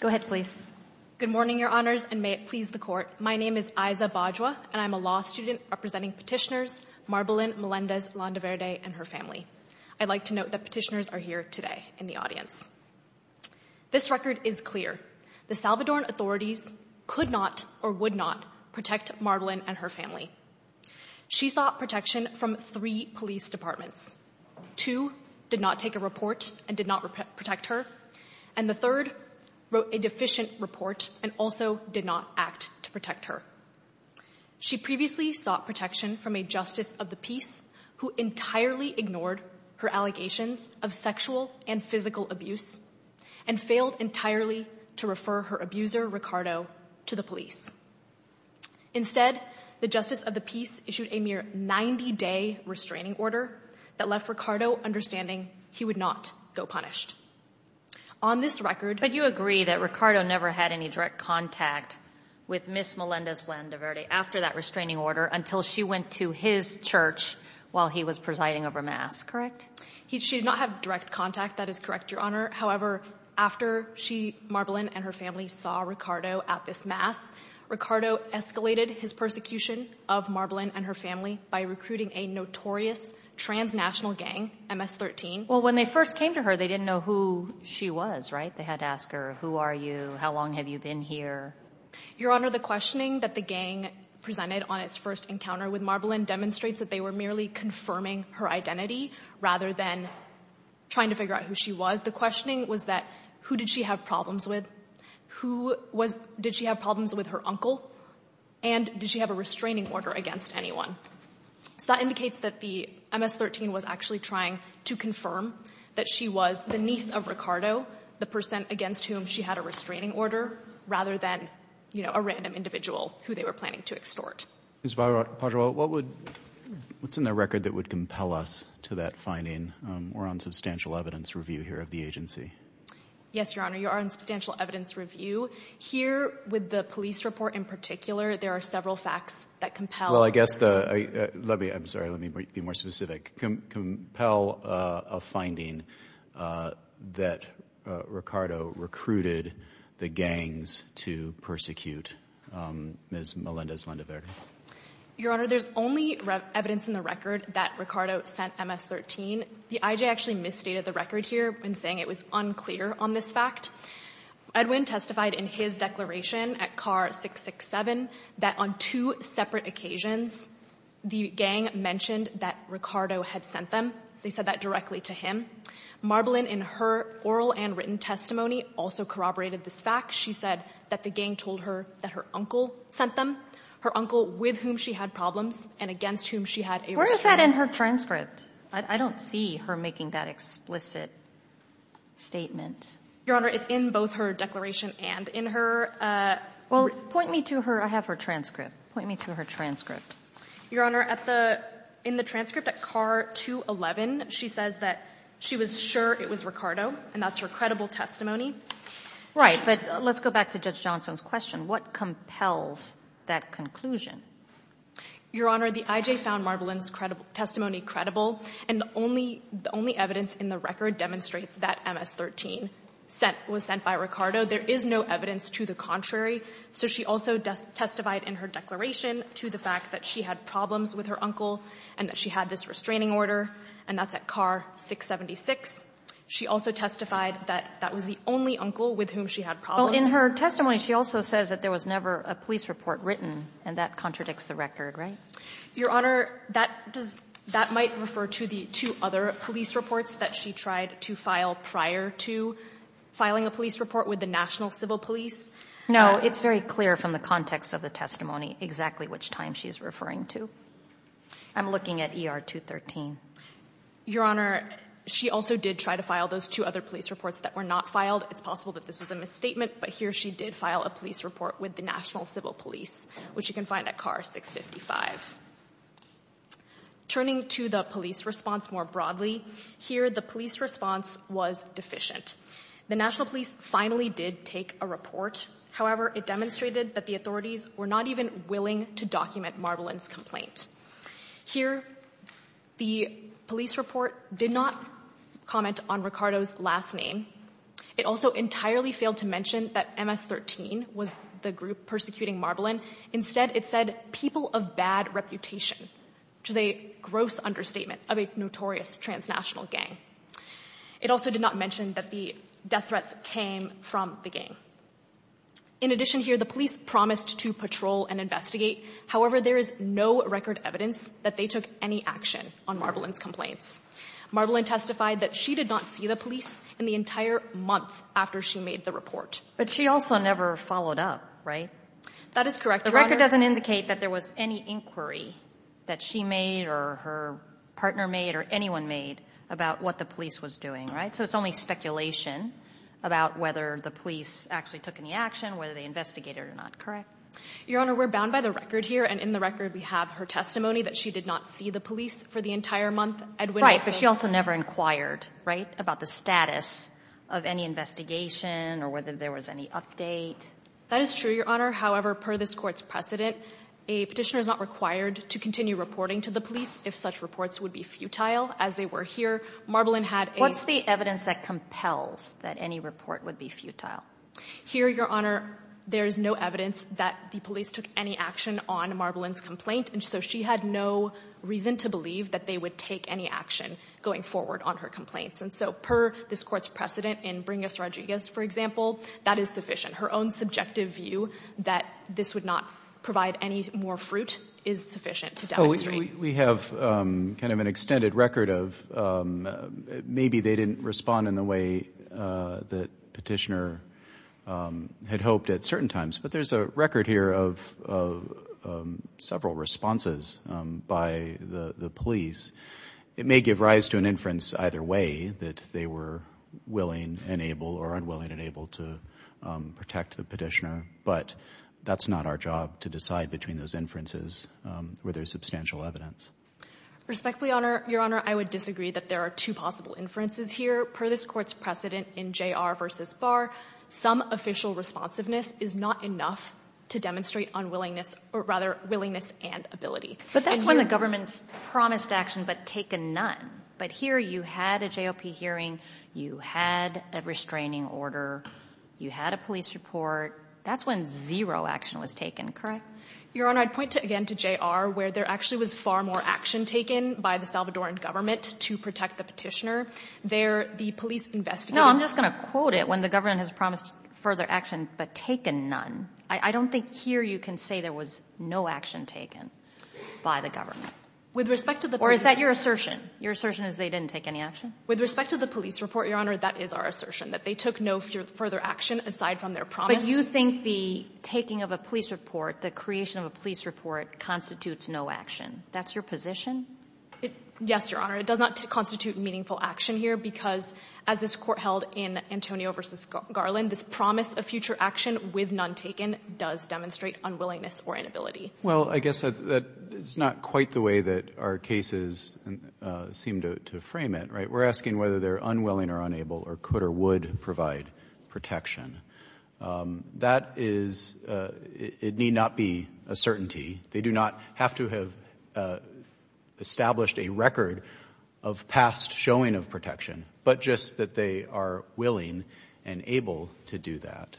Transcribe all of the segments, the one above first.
Go ahead, please. Good morning, Your Honors, and may it please the Court. My name is Aiza Bajwa, and I'm a law student representing petitioners Marbelin Melendez-Landaverde and her family. I'd like to note that petitioners are here today in the audience. This record is clear. The Salvadoran authorities could not or would not protect Marbelin and her family. She sought protection from three police departments. Two did not take a report and did not protect her. And the third wrote a deficient report and also did not act to protect her. She previously sought protection from a Justice of the Peace who entirely ignored her allegations of sexual and physical abuse and failed entirely to refer her abuser, Ricardo, to the police. Instead, the Justice of the Peace issued a mere 90-day restraining order that left Ricardo understanding he would not go punished. On this record— But you agree that Ricardo never had any direct contact with Ms. Melendez-Landaverde after that restraining order until she went to his church while he was presiding over mass, correct? She did not have direct contact, that is correct, Your Honor. However, after Marbelin and her family saw Ricardo at this mass, Ricardo escalated his persecution of Marbelin and her family by recruiting a notorious transnational gang, MS-13. Well, when they first came to her, they didn't know who she was, right? They had to ask her, who are you? How long have you been here? Your Honor, the questioning that the gang presented on its first encounter with Marbelin demonstrates that they were merely confirming her identity rather than trying to figure out who she was. The questioning was that, who did she have problems with? Who was—did she have problems with her uncle? And did she have a restraining order against anyone? So that indicates that the MS-13 was actually trying to confirm that she was the niece of Ricardo, the person against whom she had a restraining order, rather than, you know, a random individual who they were planning to extort. Ms. Pajaro, what would—what's in the record that would compel us to that finding? We're on substantial evidence review here of the agency. Yes, Your Honor, you are on substantial evidence review. Here, with the police report in particular, there are several facts that compel— Well, I guess the—let me—I'm sorry, let me be more specific— compel a finding that Ricardo recruited the gangs to persecute Ms. Melendez-Landeverde. Your Honor, there's only evidence in the record that Ricardo sent MS-13. The IJ actually misstated the record here in saying it was unclear on this fact. Edwin testified in his declaration at Carr 667 that on two separate occasions, the gang mentioned that Ricardo had sent them. They said that directly to him. Marbolin, in her oral and written testimony, also corroborated this fact. She said that the gang told her that her uncle sent them, her uncle with whom she had problems and against whom she had a restraining order. Where is that in her transcript? I don't see her making that explicit statement. Your Honor, it's in both her declaration and in her— Well, point me to her. I have her transcript. Point me to her transcript. Your Honor, at the — in the transcript at Carr 211, she says that she was sure it was Ricardo, and that's her credible testimony. Right. But let's go back to Judge Johnson's question. What compels that conclusion? Your Honor, the IJ found Marbolin's testimony credible, and the only evidence in the record demonstrates that MS-13. sent — was sent by Ricardo. There is no evidence to the contrary. So she also testified in her declaration to the fact that she had problems with her uncle and that she had this restraining order, and that's at Carr 676. She also testified that that was the only uncle with whom she had problems. Well, in her testimony, she also says that there was never a police report written, and that contradicts the record, right? Your Honor, that does — that might refer to the two other police reports that she tried to file prior to filing a police report with the National Civil Police. No, it's very clear from the context of the testimony exactly which time she is referring to. I'm looking at ER 213. Your Honor, she also did try to file those two other police reports that were not filed. It's possible that this was a misstatement, but here she did file a police report with the National Civil Police, which you can find at Carr 655. Turning to the police response more broadly, here the police response was deficient. The National Police finally did take a report. However, it demonstrated that the authorities were not even willing to document Marbolin's Here, the police report did not comment on Ricardo's last name. It also entirely failed to mention that MS-13 was the group persecuting Marbolin. Instead, it said people of bad reputation, which is a gross understatement of a notorious transnational gang. It also did not mention that the death threats came from the gang. In addition here, the police promised to patrol and investigate. However, there is no record evidence that they took any action on Marbolin's complaints. Marbolin testified that she did not see the police in the entire month after she made the report. But she also never followed up, right? That is correct, Your Honor. The record doesn't indicate that there was any inquiry that she made or her partner made or anyone made about what the police was doing, right? So it's only speculation about whether the police actually took any action, whether they investigated or not, correct? Your Honor, we're bound by the record here, and in the record we have her testimony that she did not see the police for the entire month. Edwin also... Right, but she also never inquired, right, about the status of any investigation or whether there was any update. That is true, Your Honor. However, per this Court's precedent, a petitioner is not required to continue reporting to the police if such reports would be futile. As they were here, Marbolin had a... What's the evidence that compels that any report would be futile? Here, Your Honor, there is no evidence that the police took any action on Marbolin's complaint, and so she had no reason to believe that they would take any action going forward on her complaints. And so per this Court's precedent in Bringus Rodriguez, for example, that is sufficient. Her own subjective view that this would not provide any more fruit is sufficient to demonstrate... We have kind of an extended record of maybe they didn't respond in the way that petitioner had hoped at certain times, but there's a record here of several responses by the police. It may give rise to an inference either way that they were willing and able or unwilling and unable to protect the petitioner, but that's not our job to decide between those inferences where there's substantial evidence. Respectfully, Your Honor, I would disagree that there are two possible inferences here. Per this Court's precedent in J.R. v. Barr, some official responsiveness is not enough to demonstrate unwillingness or rather willingness and ability. But that's when the government's promised action but taken none. But here you had a JOP hearing, you had a restraining order, you had a police report. That's when zero action was taken, correct? Your Honor, I'd point again to J.R. where there actually was far more action taken by the Salvadoran government to protect the petitioner. There, the police investigated... No, I'm just going to quote it. When the government has promised further action but taken none. I don't think here you can say there was no action taken by the government. With respect to the police... Or is that your assertion? Your assertion is they didn't take any action? With respect to the police report, Your Honor, that is our assertion, that they took no further action aside from their promise. But you think the taking of a police report, the creation of a police report, constitutes no action. That's your position? Yes, Your Honor. It does not constitute meaningful action here because, as this Court held in Antonio v. Garland, this promise of future action with none taken does demonstrate unwillingness or inability. Well, I guess that's not quite the way that our cases seem to frame it, right? We're asking whether they're unwilling or unable or could or would provide protection. That is, it need not be a certainty. They do not have to have established a record of past showing of protection, but just that they are willing and able to do that.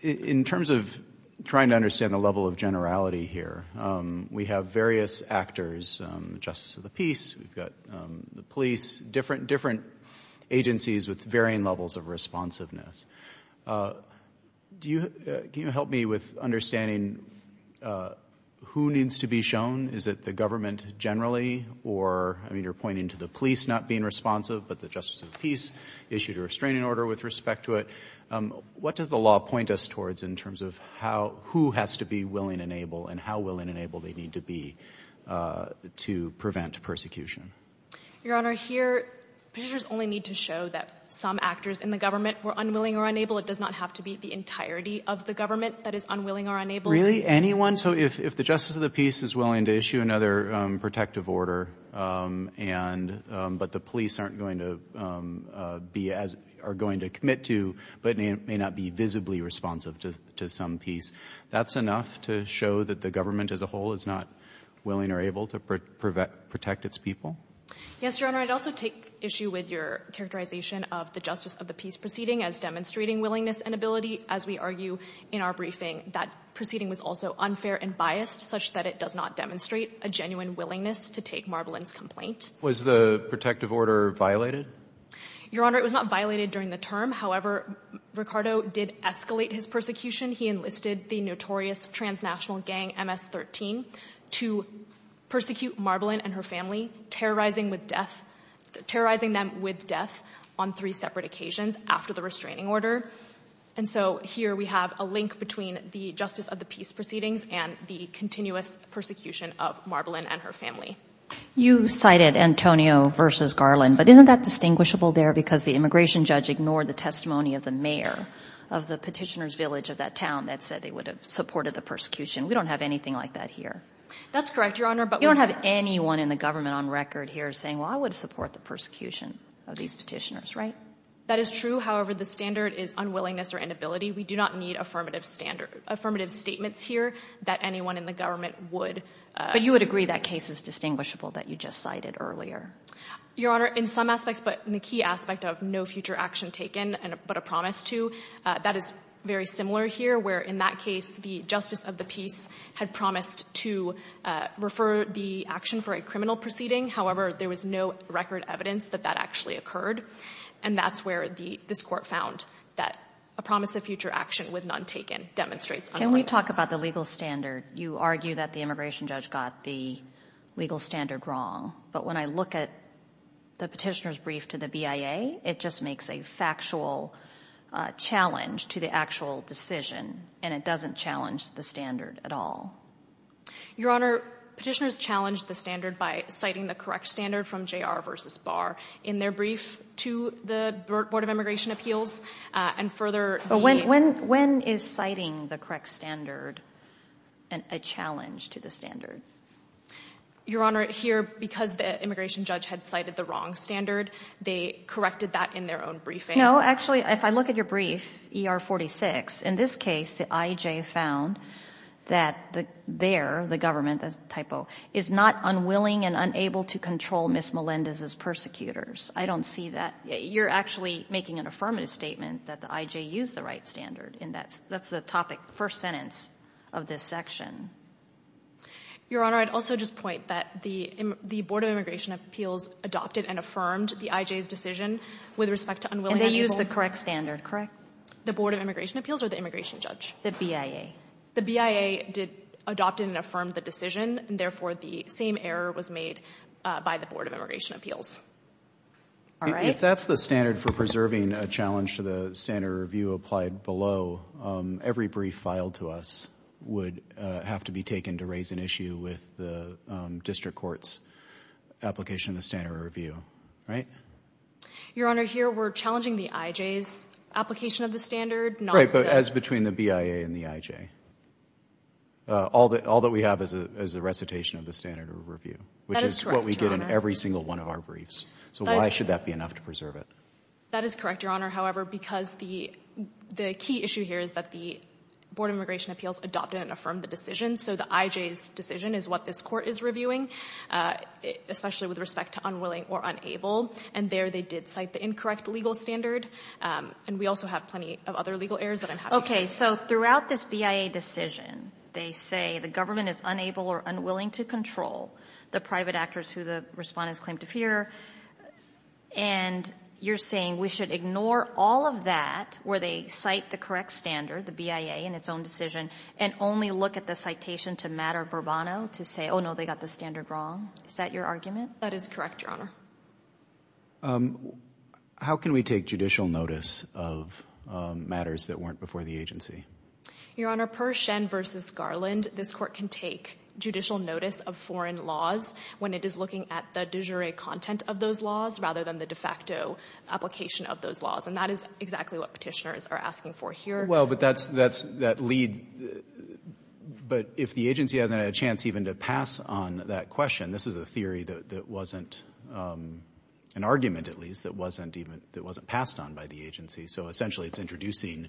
In terms of trying to understand the level of generality here, we have various actors, Justice of the Peace, we've got the police, different agencies with varying levels of responsiveness. Can you help me with understanding who needs to be shown? Is it the government generally or, I mean, you're pointing to the police not being responsive, but the Justice of the Peace issued a restraining order with respect to it. What does the law point us towards in terms of who has to be willing and able and how willing and able they need to be to prevent persecution? Your Honor, here, Petitioners only need to show that some actors in the government were unwilling or unable. It does not have to be the entirety of the government that is unwilling or unable. Really? Anyone? So if the Justice of the Peace is willing to issue another protective order, but the police aren't going to be as, are going to commit to, but may not be visibly responsive to some peace, that's enough to show that the government as a whole is not willing or able to protect its people? Yes, Your Honor. I'd also take issue with your characterization of the Justice of the Peace proceeding as demonstrating willingness and ability, as we argue in our briefing that proceeding was also unfair and biased, such that it does not demonstrate a genuine willingness to take Marbolin's complaint. Was the protective order violated? Your Honor, it was not violated during the term. However, Ricardo did escalate his persecution. He enlisted the notorious transnational gang MS-13 to persecute Marbolin and her family, terrorizing with death, terrorizing them with death on three separate occasions after the restraining order. And so here we have a link between the Justice of the Peace proceedings and the continuous persecution of Marbolin and her family. You cited Antonio versus Garland, but isn't that distinguishable there because the immigration judge ignored the testimony of the mayor of the petitioner's village of that town that said they would have supported the persecution? We don't have anything like that here. That's correct, Your Honor, but we don't have anyone in the government on record here saying, well, I would support the persecution of these petitioners, right? That is true. However, the standard is unwillingness or inability. We do not need affirmative standards, affirmative statements here that anyone in the government would. But you would agree that case is distinguishable that you just cited earlier? Your Honor, in some aspects, but in the key aspect of no future action taken, but a promise to, that is very similar here where in that case, the Justice of the Peace had promised to refer the action for a criminal proceeding. However, there was no record evidence that that actually occurred. And that's where this court found that a promise of future action with none taken demonstrates. Can we talk about the legal standard? You argue that the immigration judge got the legal standard wrong. But when I look at the petitioner's brief to the BIA, it just makes a factual challenge to the actual decision and it doesn't challenge the standard at all. Your Honor, petitioners challenged the standard by citing the correct standard from J.R. versus Barr in their brief to the Board of Immigration Appeals and further. When is citing the correct standard a challenge to the standard? Your Honor, here, because the immigration judge had cited the wrong standard, they corrected that in their own briefing. No, actually, if I look at your brief, ER 46, in this case, the IJ found that there, the government, that's a typo, is not unwilling and unable to control Ms. Melendez's persecutors. I don't see that. You're actually making an affirmative statement that the IJ used the right standard and that's the topic, first sentence of this section. Your Honor, I'd also just point that the Board of Immigration Appeals adopted and affirmed the IJ's decision with respect to unwilling and unable. And they used the correct standard, correct? The Board of Immigration Appeals or the immigration judge? The BIA. The BIA adopted and affirmed the decision and therefore the same error was made by the Board of Immigration Appeals. If that's the standard for preserving a challenge to the standard review applied below, every brief filed to us would have to be taken to raise an issue with the district court's application of the standard review, right? Your Honor, here, we're challenging the IJ's application of the standard, not the... Right, but as between the BIA and the IJ. All that we have is a recitation of the standard review, which is what we get in every single one of our briefs. So why should that be enough to preserve it? That is correct, Your Honor. However, because the key issue here is that the Board of Immigration Appeals adopted and affirmed the decision. So the IJ's decision is what this court is reviewing, especially with respect to unwilling or unable. And there they did cite the incorrect legal standard. And we also have plenty of other legal errors that I'm happy to discuss. Okay, so throughout this BIA decision, they say the government is unable or unwilling to control the private actors who the respondents claim to fear. And you're saying we should ignore all of that, where they cite the correct standard, the BIA, in its own decision, and only look at the citation to Matter-Burbano to say, oh, no, they got the standard wrong. Is that your argument? That is correct, Your Honor. How can we take judicial notice of matters that weren't before the agency? Your Honor, per Schen v. Garland, this court can take judicial notice of foreign laws when it is looking at the de jure content of those laws rather than the de facto application of those laws. And that is exactly what petitioners are asking for here. Well, but that's that lead, but if the agency hasn't had a chance even to pass on that question, this is a theory that wasn't, an argument at least, that wasn't passed on by the agency. So essentially, it's introducing,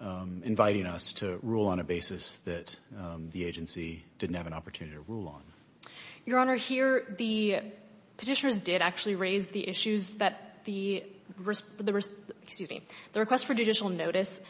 inviting us to rule on a basis that the agency didn't have an opportunity to rule on. Your Honor, here, the petitioners did actually raise the issues that the request for judicial notice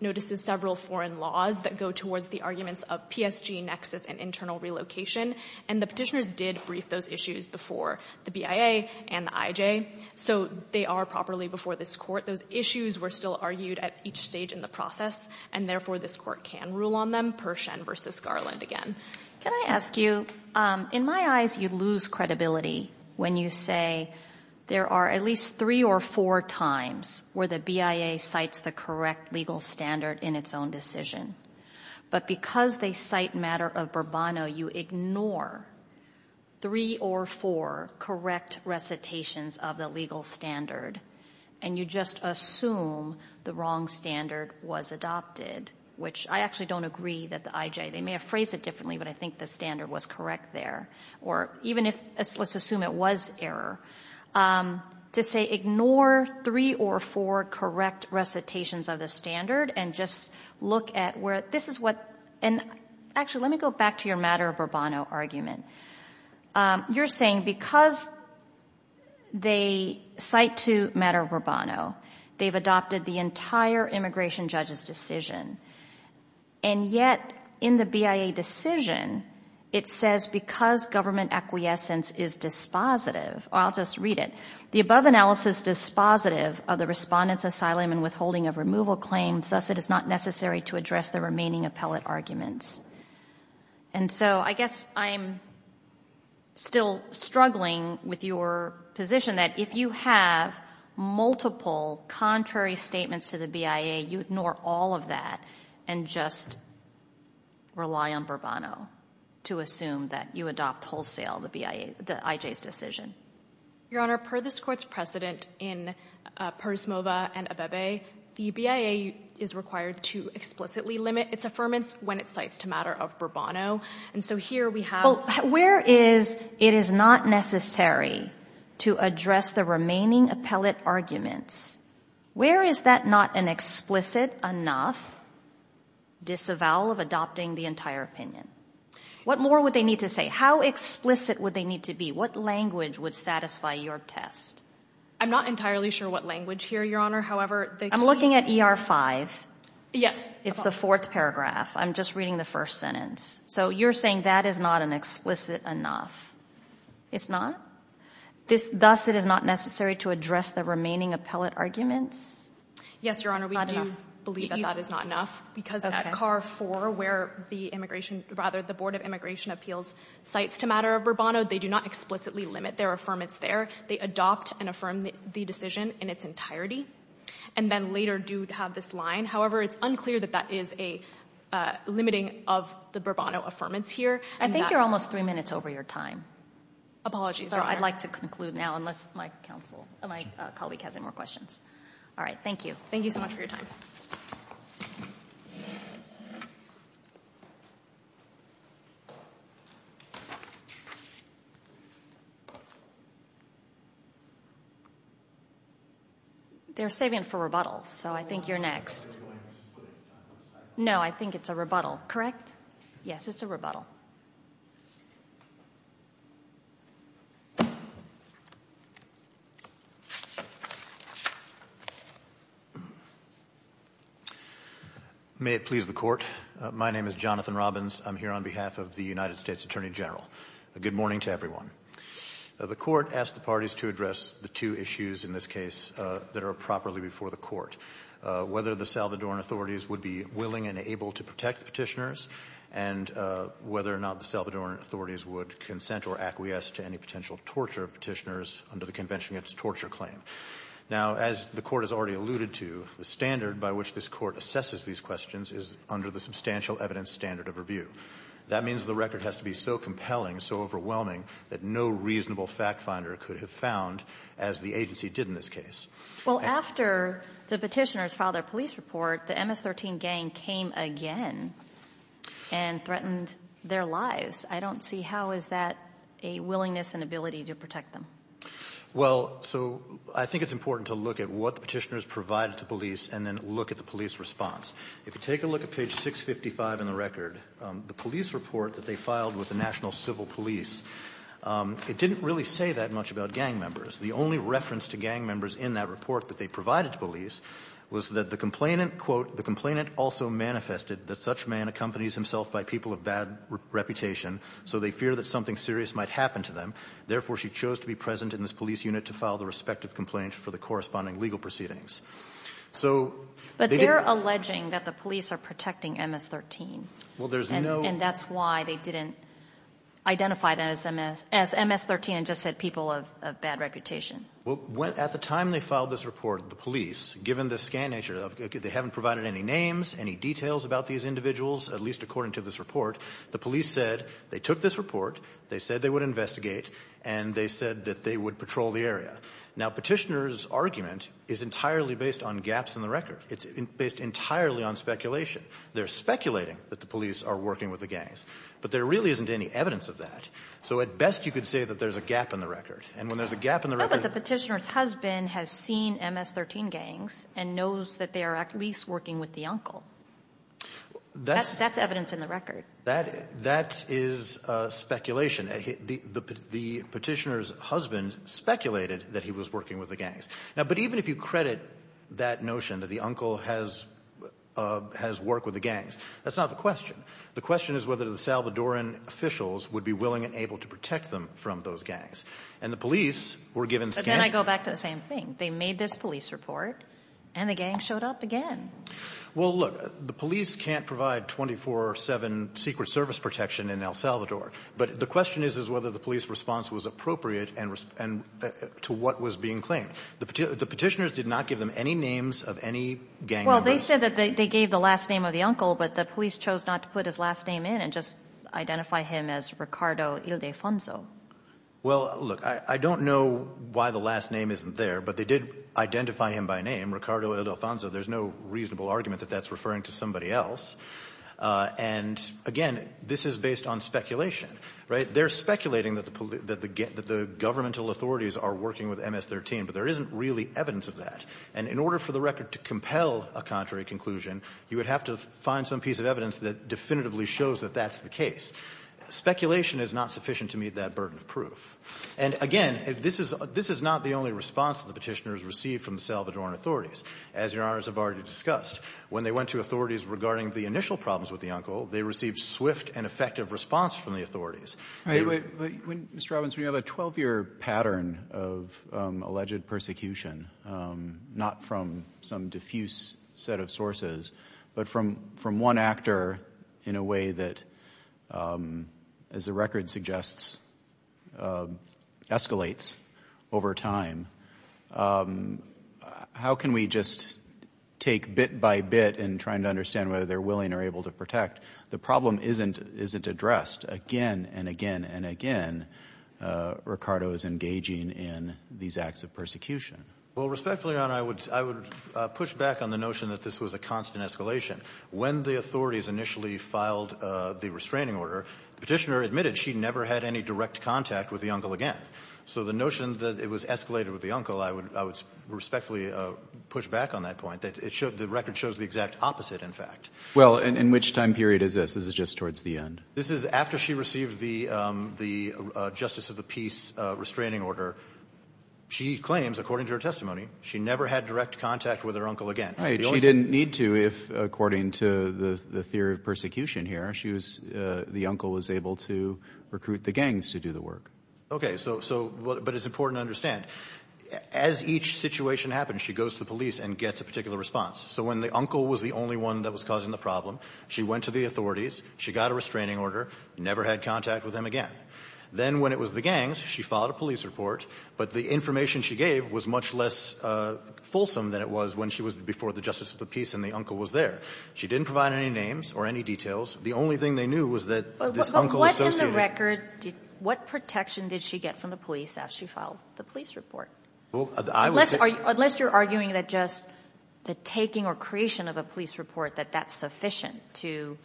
notices several foreign laws that go towards the arguments of PSG, nexus, and internal relocation. And the petitioners did brief those issues before the BIA and the IJ. So they are properly before this court. Those issues were still argued at each stage in the process. And therefore, this court can rule on them per Schen v. Garland again. Can I ask you, in my eyes, you lose credibility when you say there are at least three or four times where the BIA cites the correct legal standard in its own decision. But because they cite matter of Bourbon, you ignore three or four correct recitations of the legal standard. And you just assume the wrong standard was adopted, which I actually don't agree that the IJ, they may have phrased it differently, but I think the standard was correct there. Or even if, let's assume it was error, to say ignore three or four correct recitations of the standard and just look at where this is what, and actually, let me go back to your matter of Bourbon argument. You're saying because they cite to matter of Bourbon, they've adopted the entire immigration judge's decision. And yet in the BIA decision, it says because government acquiescence is dispositive, I'll just read it, the above analysis dispositive of the respondent's asylum and withholding of removal claims, thus it is not necessary to address the remaining appellate arguments. And so I guess I'm still struggling with your position that if you have multiple contrary statements to the BIA, you ignore all of that and just rely on Bourbon to assume that you adopt wholesale the IJ's decision. Your Honor, per this court's precedent in Persmova and Abebe, the BIA is required to explicitly limit its affirmance when it cites to matter of Bourbon. Oh, and so here we have, where is, it is not necessary to address the remaining appellate arguments. Where is that not an explicit enough disavowal of adopting the entire opinion? What more would they need to say? How explicit would they need to be? What language would satisfy your test? I'm not entirely sure what language here, Your Honor. However, I'm looking at ER five. Yes. It's the fourth paragraph. I'm just reading the first sentence. So you're saying that is not an explicit enough. It's not? This, thus it is not necessary to address the remaining appellate arguments? Yes, Your Honor. We do believe that that is not enough because at CAR 4, where the immigration, rather, the Board of Immigration Appeals cites to matter of Bourbon, they do not explicitly limit their affirmance there. They adopt and affirm the decision in its entirety and then later do have this line. However, it's unclear that that is a limiting of the Bourbon affirmance here. I think you're almost three minutes over your time. Apologies, Your Honor. I'd like to conclude now unless my colleague has any more questions. All right. Thank you. Thank you so much for your time. They're saving it for rebuttal. So I think you're next. No, I think it's a rebuttal. Correct? Yes, it's a rebuttal. May it please the Court. My name is Jonathan Robbins. I'm here on behalf of the United States Attorney General. Good morning to everyone. The Court asked the parties to address the two issues in this case that are properly before the Court, whether the Salvadoran authorities would be willing and able to protect the Petitioners, and whether or not the Salvadoran authorities would consent or acquiesce to any potential torture of Petitioners under the Convention Against Torture claim. Now, as the Court has already alluded to, the standard by which this Court assesses these questions is under the substantial evidence standard of review. That means the record has to be so compelling, so overwhelming, that no reasonable fact finder could have found as the agency did in this case. Well, after the Petitioners filed their police report, the MS-13 gang came again and threatened their lives. I don't see how is that a willingness and ability to protect them. Well, so I think it's important to look at what the Petitioners provided to police and then look at the police response. If you take a look at page 655 in the record, the police report that they filed with the National Civil Police, it didn't really say that much about gang members. The only reference to gang members in that report that they provided to police was that the complainant, quote, the complainant also manifested that such man accompanies himself by people of bad reputation, so they fear that something serious might happen to them. Therefore, she chose to be present in this police unit to file the respective complaint for the corresponding legal proceedings. So, they didn't. But they're alleging that the police are protecting MS-13. Well, there's no. And that's why they didn't identify them as MS-13 and just said people of bad reputation. Well, at the time they filed this report, the police, given the scan nature, they haven't provided any names, any details about these individuals, at least according to this report. The police said they took this report, they said they would investigate, and they said that they would patrol the area. Now, Petitioners' argument is entirely based on gaps in the record. It's based entirely on speculation. They're speculating that the police are working with the gangs, but there really isn't any evidence of that. So, at best, you could say that there's a gap in the record. And when there's a gap in the record. But the Petitioner's husband has seen MS-13 gangs and knows that they are at least working with the uncle. That's evidence in the record. That is speculation. The Petitioner's husband speculated that he was working with the gangs. Now, but even if you credit that notion that the uncle has worked with the gangs, that's not the question. The question is whether the Salvadoran officials would be willing and able to protect them from those gangs. And the police were given scans. But then I go back to the same thing. They made this police report, and the gang showed up again. Well, look, the police can't provide 24-7 Secret Service protection in El Salvador. But the question is, is whether the police response was appropriate and to what was being claimed. The Petitioner's did not give them any names of any gang members. Well, they said that they gave the last name of the uncle, but the police chose not to put his last name in and just identify him as Ricardo Ildefonso. Well, look, I don't know why the last name isn't there, but they did identify him by name, Ricardo Ildefonso. There's no reasonable argument that that's referring to somebody else. And again, this is based on speculation, right? They're speculating that the governmental authorities are working with MS-13, but there isn't really evidence of that. And in order for the record to compel a contrary conclusion, you would have to find some piece of evidence that definitively shows that that's the case. Speculation is not sufficient to meet that burden of proof. And again, this is not the only response that the Petitioner has received from the Salvadoran authorities, as Your Honors have already discussed. When they went to authorities regarding the initial problems with the uncle, they received swift and effective response from the authorities. Mr. Robbins, when you have a 12-year pattern of alleged persecution, not from some diffuse set of sources, but from one actor in a way that, as the record suggests, escalates over time, how can we just take bit by bit in trying to understand whether they're willing or able to protect? The problem isn't addressed. Again and again and again, Ricardo is engaging in these acts of persecution. Well, respectfully, Your Honor, I would push back on the notion that this was a constant escalation. When the authorities initially filed the restraining order, the Petitioner admitted she never had any direct contact with the uncle again. So the notion that it was escalated with the uncle, I would respectfully push back on that point, that the record shows the exact opposite, in fact. Well, in which time period is this? This is just towards the end. This is after she received the Justice of the Peace restraining order. She claims, according to her testimony, she never had direct contact with her uncle again. She didn't need to if, according to the theory of persecution here, the uncle was able to recruit the gangs to do the work. Okay, but it's important to understand, as each situation happens, she goes to the police and gets a particular response. So when the uncle was the only one that was causing the problem, she went to the authorities, she got a restraining order, never had contact with him again. Then when it was the gangs, she filed a police report, but the information she gave was much less fulsome than it was when she was before the Justice of the Peace and the uncle was there. She didn't provide any names or any details. The only thing they knew was that this uncle associated her. But what in the record, what protection did she get from the police after she filed the police report? Unless you're arguing that just the taking or creation of a police report, that that's sufficient to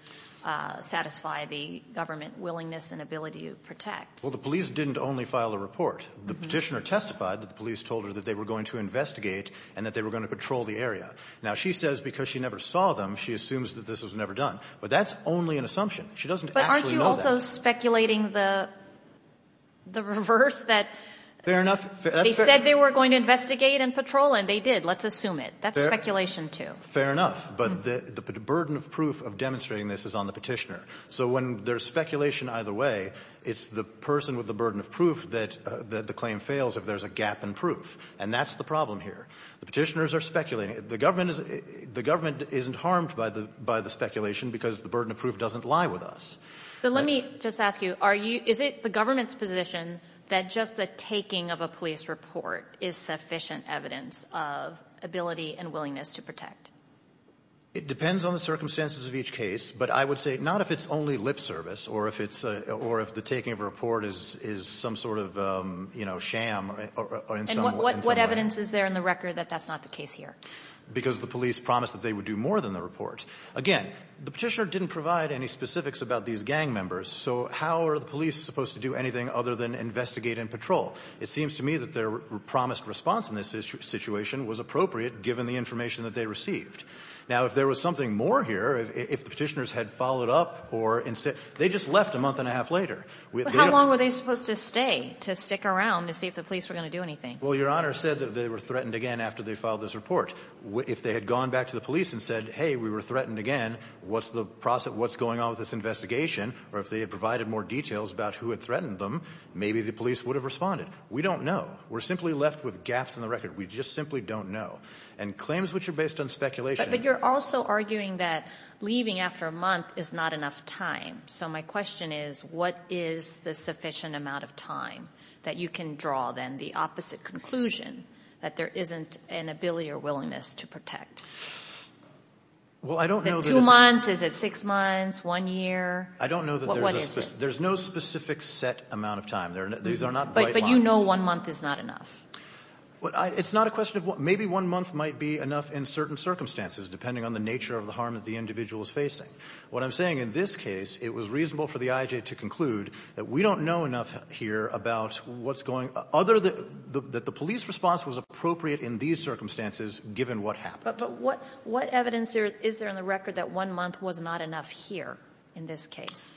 satisfy the government willingness and ability to protect. Well, the police didn't only file a report. The petitioner testified that the police told her that they were going to investigate and that they were going to patrol the area. Now, she says because she never saw them, she assumes that this was never done. But that's only an assumption. She doesn't actually know that. But aren't you also speculating the reverse, that they said this was never done? They said they were going to investigate and patrol and they did. Let's assume it. That's speculation too. Fair enough. But the burden of proof of demonstrating this is on the petitioner. So when there's speculation either way, it's the person with the burden of proof that the claim fails if there's a gap in proof. And that's the problem here. The petitioners are speculating. The government isn't harmed by the speculation because the burden of proof doesn't lie with us. But let me just ask you, are you — is it the government's position that just the taking of a police report is sufficient evidence of ability and willingness to protect? It depends on the circumstances of each case. But I would say not if it's only lip service or if it's — or if the taking of a report is some sort of, you know, sham or in some way. And what evidence is there in the record that that's not the case here? Because the police promised that they would do more than the report. Again, the petitioner didn't provide any specifics about these gang members. So how are the police supposed to do anything other than investigate and patrol? It seems to me that their promised response in this situation was appropriate, given the information that they received. Now, if there was something more here, if the petitioners had followed up or instead — they just left a month and a half later. How long were they supposed to stay to stick around to see if the police were going to do anything? Well, Your Honor said that they were threatened again after they filed this report. If they had gone back to the police and said, hey, we were threatened again, what's the process — what's going on with this investigation? Or if they had provided more details about who had threatened them, maybe the police would have responded. We don't know. We're simply left with gaps in the record. We just simply don't know. And claims which are based on speculation — But you're also arguing that leaving after a month is not enough time. So my question is, what is the sufficient amount of time that you can draw, then, the opposite conclusion, that there isn't an ability or willingness to protect? Well, I don't know that it's — Two months? Is it six months? One year? I don't know that there's a specific — There's no specific set amount of time. These are not bright lines. But you know one month is not enough. It's not a question of — maybe one month might be enough in certain circumstances, depending on the nature of the harm that the individual is facing. What I'm saying in this case, it was reasonable for the IJA to conclude that we don't know enough here about what's going — other than that the police response was appropriate in these circumstances, given what happened. But what evidence is there in the record that one month was not enough here in this case?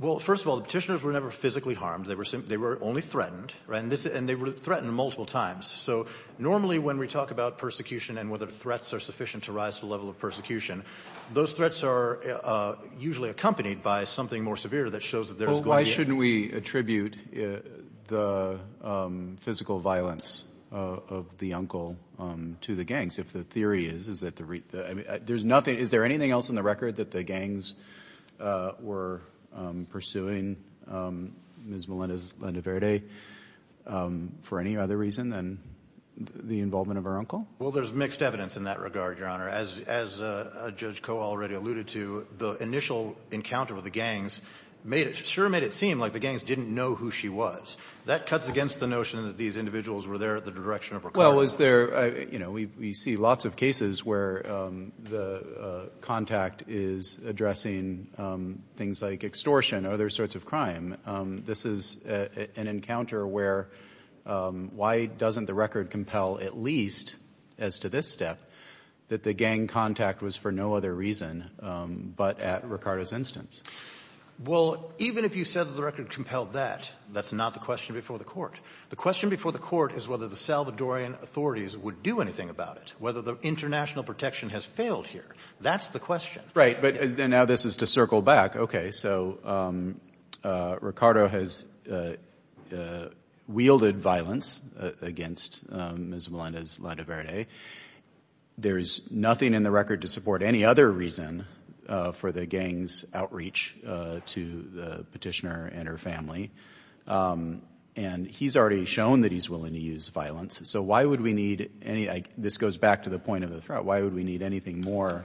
Well, first of all, the Petitioners were never physically harmed. They were only threatened, right? And they were threatened multiple times. So normally when we talk about persecution and whether threats are sufficient to rise to the level of persecution, those threats are usually accompanied by something more severe that shows that there's going to be — physical violence of the uncle to the gangs. If the theory is, is that the — there's nothing — is there anything else in the record that the gangs were pursuing Ms. Melendez-Lendeverde for any other reason than the involvement of her uncle? Well, there's mixed evidence in that regard, Your Honor. As Judge Koh already alluded to, the initial encounter with the gangs made it — sure made it seem like the gangs didn't know who she was. That cuts against the notion that these individuals were there at the direction of Ricardo. Well, is there — you know, we see lots of cases where the contact is addressing things like extortion, other sorts of crime. This is an encounter where why doesn't the record compel at least, as to this step, that the gang contact was for no other reason but at Ricardo's instance? Well, even if you said that the record compelled that, that's not the question before the court. The question before the court is whether the Salvadorian authorities would do anything about it, whether the international protection has failed here. That's the question. Right. But now this is to circle back. Okay. So Ricardo has wielded violence against Ms. Melendez-Lendeverde. There's nothing in the record to support any other reason for the gang's outreach to the petitioner and her family. And he's already shown that he's willing to use violence. So why would we need any — this goes back to the point of the threat. Why would we need anything more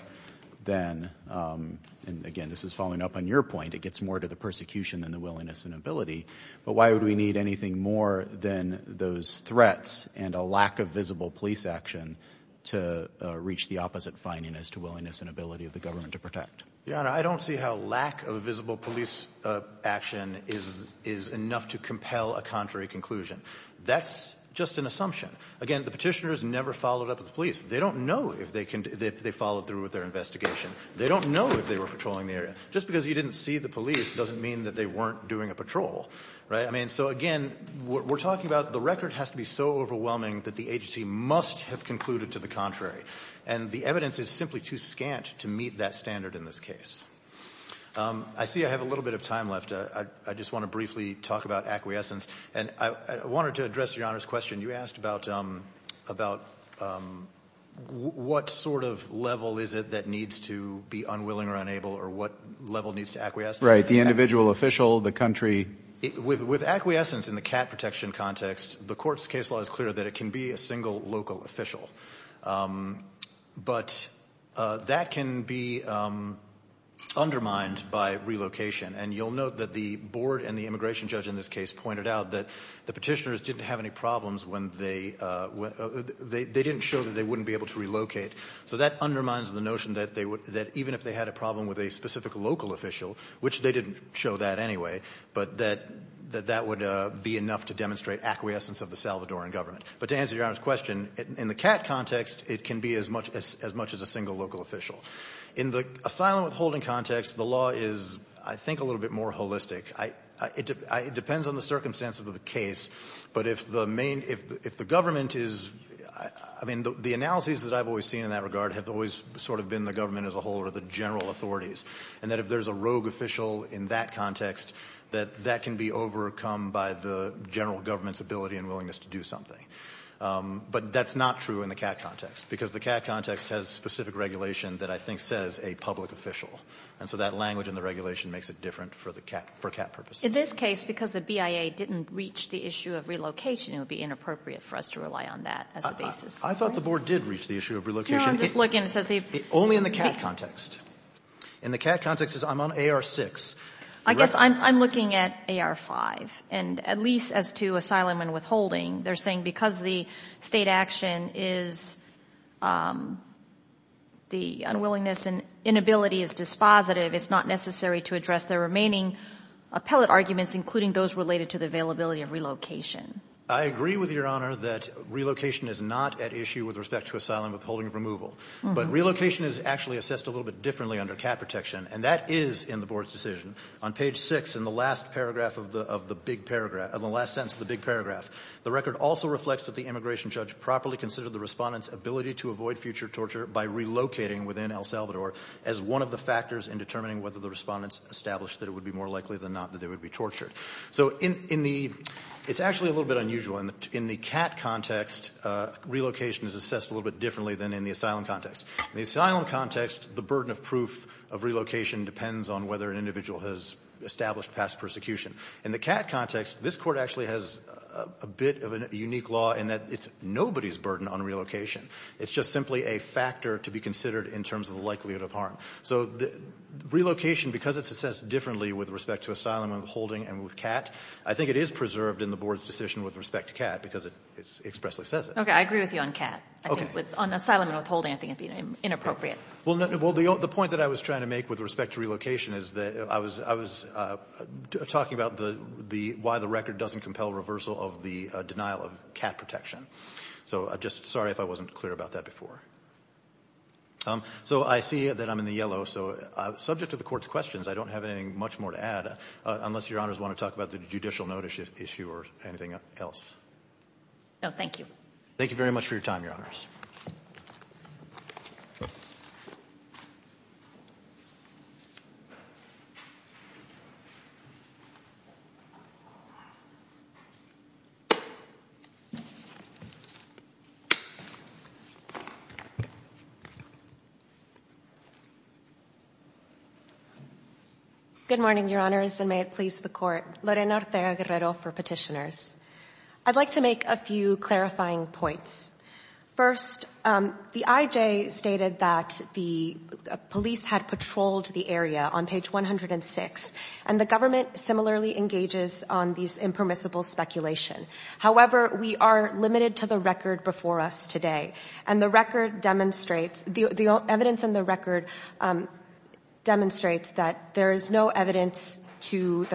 than — and again, this is following up on your point. It gets more to the persecution than the willingness and ability. But why would we need anything more than those threats and a lack of visible police action to reach the opposite fineness to willingness and ability of the government to protect? Your Honor, I don't see how lack of visible police action is enough to compel a contrary conclusion. That's just an assumption. Again, the petitioners never followed up with the police. They don't know if they followed through with their investigation. They don't know if they were patrolling the area. Just because you didn't see the police doesn't mean that they weren't doing a patrol, right? I mean, so again, we're talking about the record has to be so overwhelming that the agency must have concluded to the contrary. And the evidence is simply too scant to meet that standard in this case. I see I have a little bit of time left. I just want to briefly talk about acquiescence. And I wanted to address Your Honor's question. You asked about what sort of level is it that needs to be unwilling or unable or what level needs to acquiesce. Right, the individual official, the country. With acquiescence in the CAT protection context, the court's case law is clear that it can be a single local official. But that can be undermined by relocation. And you'll note that the board and the immigration judge in this case pointed out that the Petitioners didn't have any problems when they didn't show that they wouldn't be able to relocate. So that undermines the notion that even if they had a problem with a specific local official, which they didn't show that anyway, but that that would be enough to demonstrate acquiescence of the Salvadoran government. But to answer Your Honor's question, in the CAT context, it can be as much as a single local official. In the asylum withholding context, the law is, I think, a little bit more holistic. It depends on the circumstances of the case, but if the main, if the government is, I mean, the analyses that I've always seen in that regard have always sort of been the government as a whole or the general authorities. And that if there's a rogue official in that context, that that can be overcome by the general government's ability and willingness to do something. But that's not true in the CAT context, because the CAT context has specific regulation that I think says a public official. And so that language in the regulation makes it different for the CAT, for CAT purposes. In this case, because the BIA didn't reach the issue of relocation, it would be inappropriate for us to rely on that as a basis. I thought the board did reach the issue of relocation. No, I'm just looking. It says they've... Only in the CAT context. In the CAT context, it says I'm on AR-6. I guess I'm looking at AR-5. And at least as to asylum and withholding, they're saying because the state action is the unwillingness and inability is dispositive, it's not necessary to address the remaining appellate arguments, including those related to the availability of relocation. I agree with Your Honor that relocation is not at issue with respect to asylum and withholding of removal. But relocation is actually assessed a little bit differently under CAT protection. And that is in the board's decision. On page six in the last paragraph of the big paragraph, of the last sentence of the big paragraph, the record also reflects that the immigration judge properly considered the respondent's ability to avoid future torture by relocating within El Salvador as one of the factors in determining whether the respondent's established that it would be more likely than not that they would be tortured. So in the... It's actually a little bit unusual. In the CAT context, relocation is assessed a little bit differently than in the asylum context. In the asylum context, the burden of proof of relocation depends on whether an individual has established past persecution. In the CAT context, this Court actually has a bit of a unique law in that it's nobody's burden on relocation. It's just simply a factor to be considered in terms of the likelihood of harm. So relocation, because it's assessed differently with respect to asylum and withholding and with CAT, I think it is preserved in the board's decision with respect to CAT because it expressly says it. Okay, I agree with you on CAT. Okay. On asylum and withholding, I think it'd be inappropriate. Well, the point that I was trying to make with respect to relocation is that I was talking about why the record doesn't compel reversal of the denial of CAT protection. So just sorry if I wasn't clear about that before. So I see that I'm in the yellow, so subject to the Court's questions, I don't have anything much more to add, unless Your Honors want to talk about the judicial notice issue or anything else. No, thank you. Thank you very much for your time, Your Honors. Good morning, Your Honors, and may it please the Court. Lorena Ortega-Guerrero for Petitioners. I'd like to make a few clarifying points. First, the IJ stated that the police had patrolled the area on page 106, and the government similarly engages on these impermissible speculation. However, we are limited to the record before us today, and the record demonstrates, the evidence in the record demonstrates that there is no evidence to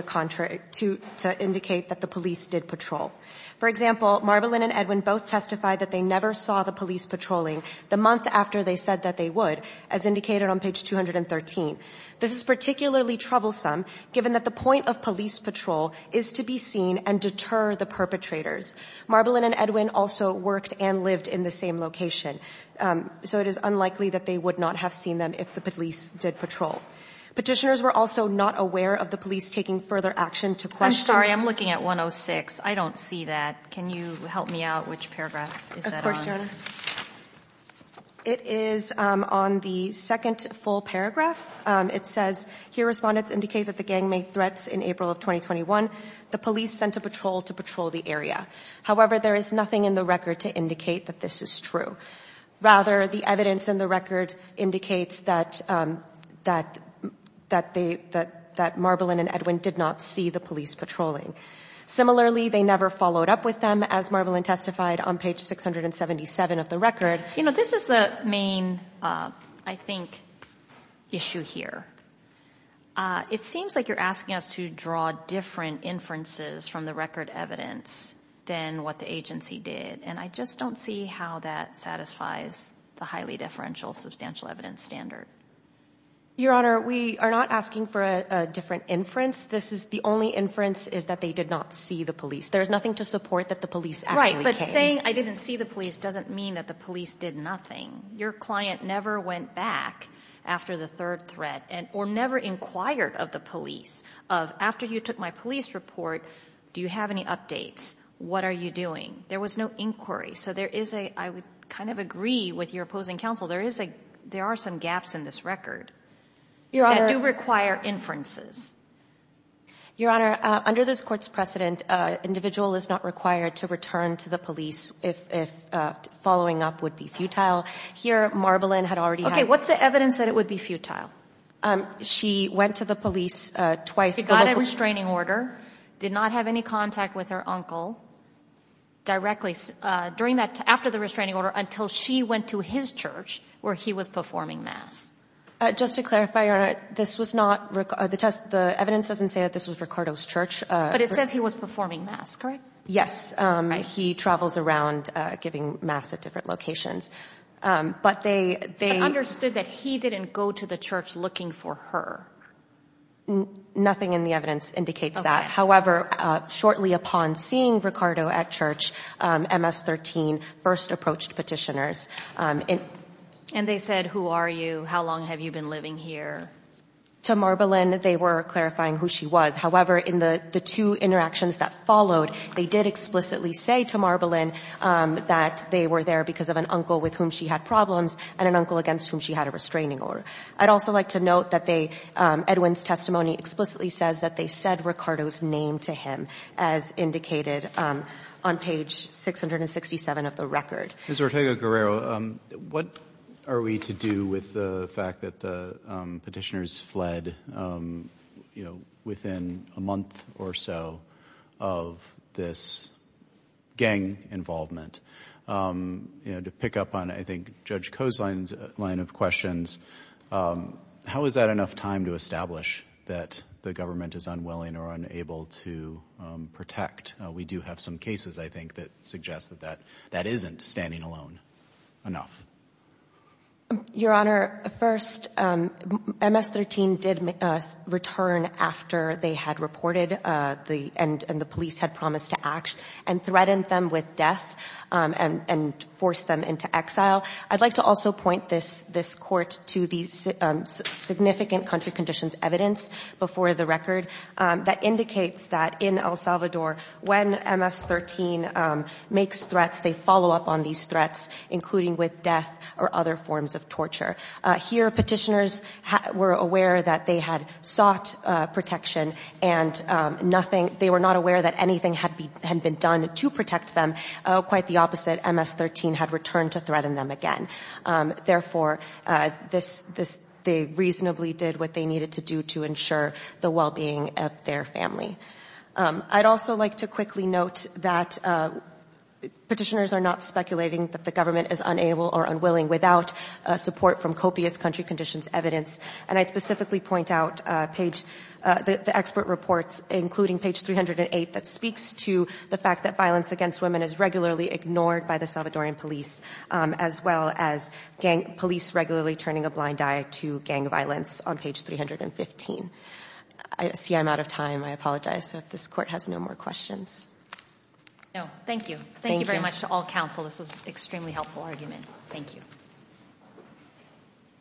indicate that the police did patrol. For example, Marbilin and Edwin both testified that they never saw the police patrolling the month after they said that they would, as indicated on page 213. This is particularly troublesome, given that the point of police patrol is to be seen and deter the perpetrators. Marbilin and Edwin also worked and lived in the same location, so it is unlikely that they would not have seen them if the police did patrol. Petitioners were also not aware of the police taking further action to question— I'm sorry, I'm looking at 106. I don't see that. Can you help me out? Which paragraph is that on? Of course, Your Honor. It is on the second full paragraph. It says, here respondents indicate that the gang made threats in April of 2021. The police sent a patrol to patrol the area. However, there is nothing in the record to indicate that this is true. Rather, the evidence in the record indicates that Marbilin and Edwin did not see the police patrolling. Similarly, they never followed up with them, as Marbilin testified on page 677 of the record. You know, this is the main, I think, issue here. It seems like you're asking us to draw different inferences from the record evidence than what the agency did, and I just don't see how that satisfies the highly differential substantial evidence standard. Your Honor, we are not asking for a different inference. This is, the only inference is that they did not see the police. There is nothing to support that the police actually came. Right, but saying I didn't see the police doesn't mean that the police did nothing. Your client never went back after the third threat, or never inquired of the police. Of, after you took my police report, do you have any updates? What are you doing? There was no inquiry. So there is a, I would kind of agree with your opposing counsel, there is a, there are some gaps in this record. Your Honor. That do require inferences. Your Honor, under this court's precedent, an individual is not required to return to the police if following up would be futile. Here, Marbalyn had already had. Okay, what's the evidence that it would be futile? She went to the police twice. She got a restraining order, did not have any contact with her uncle directly during that, after the restraining order, until she went to his church where he was performing mass. Just to clarify, Your Honor, this was not, the test, the evidence doesn't say that this was Ricardo's church. But it says he was performing mass, correct? Yes, he travels around giving mass at different locations. But they, they. Understood that he didn't go to the church looking for her. Nothing in the evidence indicates that. However, shortly upon seeing Ricardo at church, MS-13 first approached petitioners. And they said, who are you? How long have you been living here? To Marbalyn, they were clarifying who she was. However, in the two interactions that followed, they did explicitly say to Marbalyn that they were there because of an uncle with whom she had problems and an uncle against whom she had a restraining order. I'd also like to note that they, Edwin's testimony explicitly says that they said Ricardo's name to him, as indicated on page 667 of the record. Ms. Ortega-Guerrero, what are we to do with the fact that the petitioners fled, you know, within a month or so of this gang involvement? You know, to pick up on, I think, Judge Cozine's line of questions, how is that enough time to establish that the government is unwilling or unable to protect? We do have some cases, I think, that suggest that that isn't standing alone enough. Your Honor, first, MS-13 did return after they had reported and the police had promised to act and threatened them with death and forced them into exile. I'd like to also point this Court to the significant country conditions evidence before the record that indicates that in El Salvador, when MS-13 makes threats, they follow up on these threats, including with death or other forms of torture. Here, petitioners were aware that they had sought protection and nothing, they were not aware that anything had been done to protect them. Quite the opposite, MS-13 had returned to threaten them again. Therefore, this, they reasonably did what they needed to do to ensure the well-being of their family. I'd also like to quickly note that petitioners are not speculating that the government is unable or unwilling without support from copious country conditions evidence. And I specifically point out the expert reports, including page 308, that speaks to the fact that violence against women is regularly ignored by the Salvadoran police, as well as police regularly turning a blind eye to gang violence on page 315. I see I'm out of time, I apologize, so if this Court has no more questions. No, thank you. Thank you very much to all counsel, this was an extremely helpful argument. Thank you.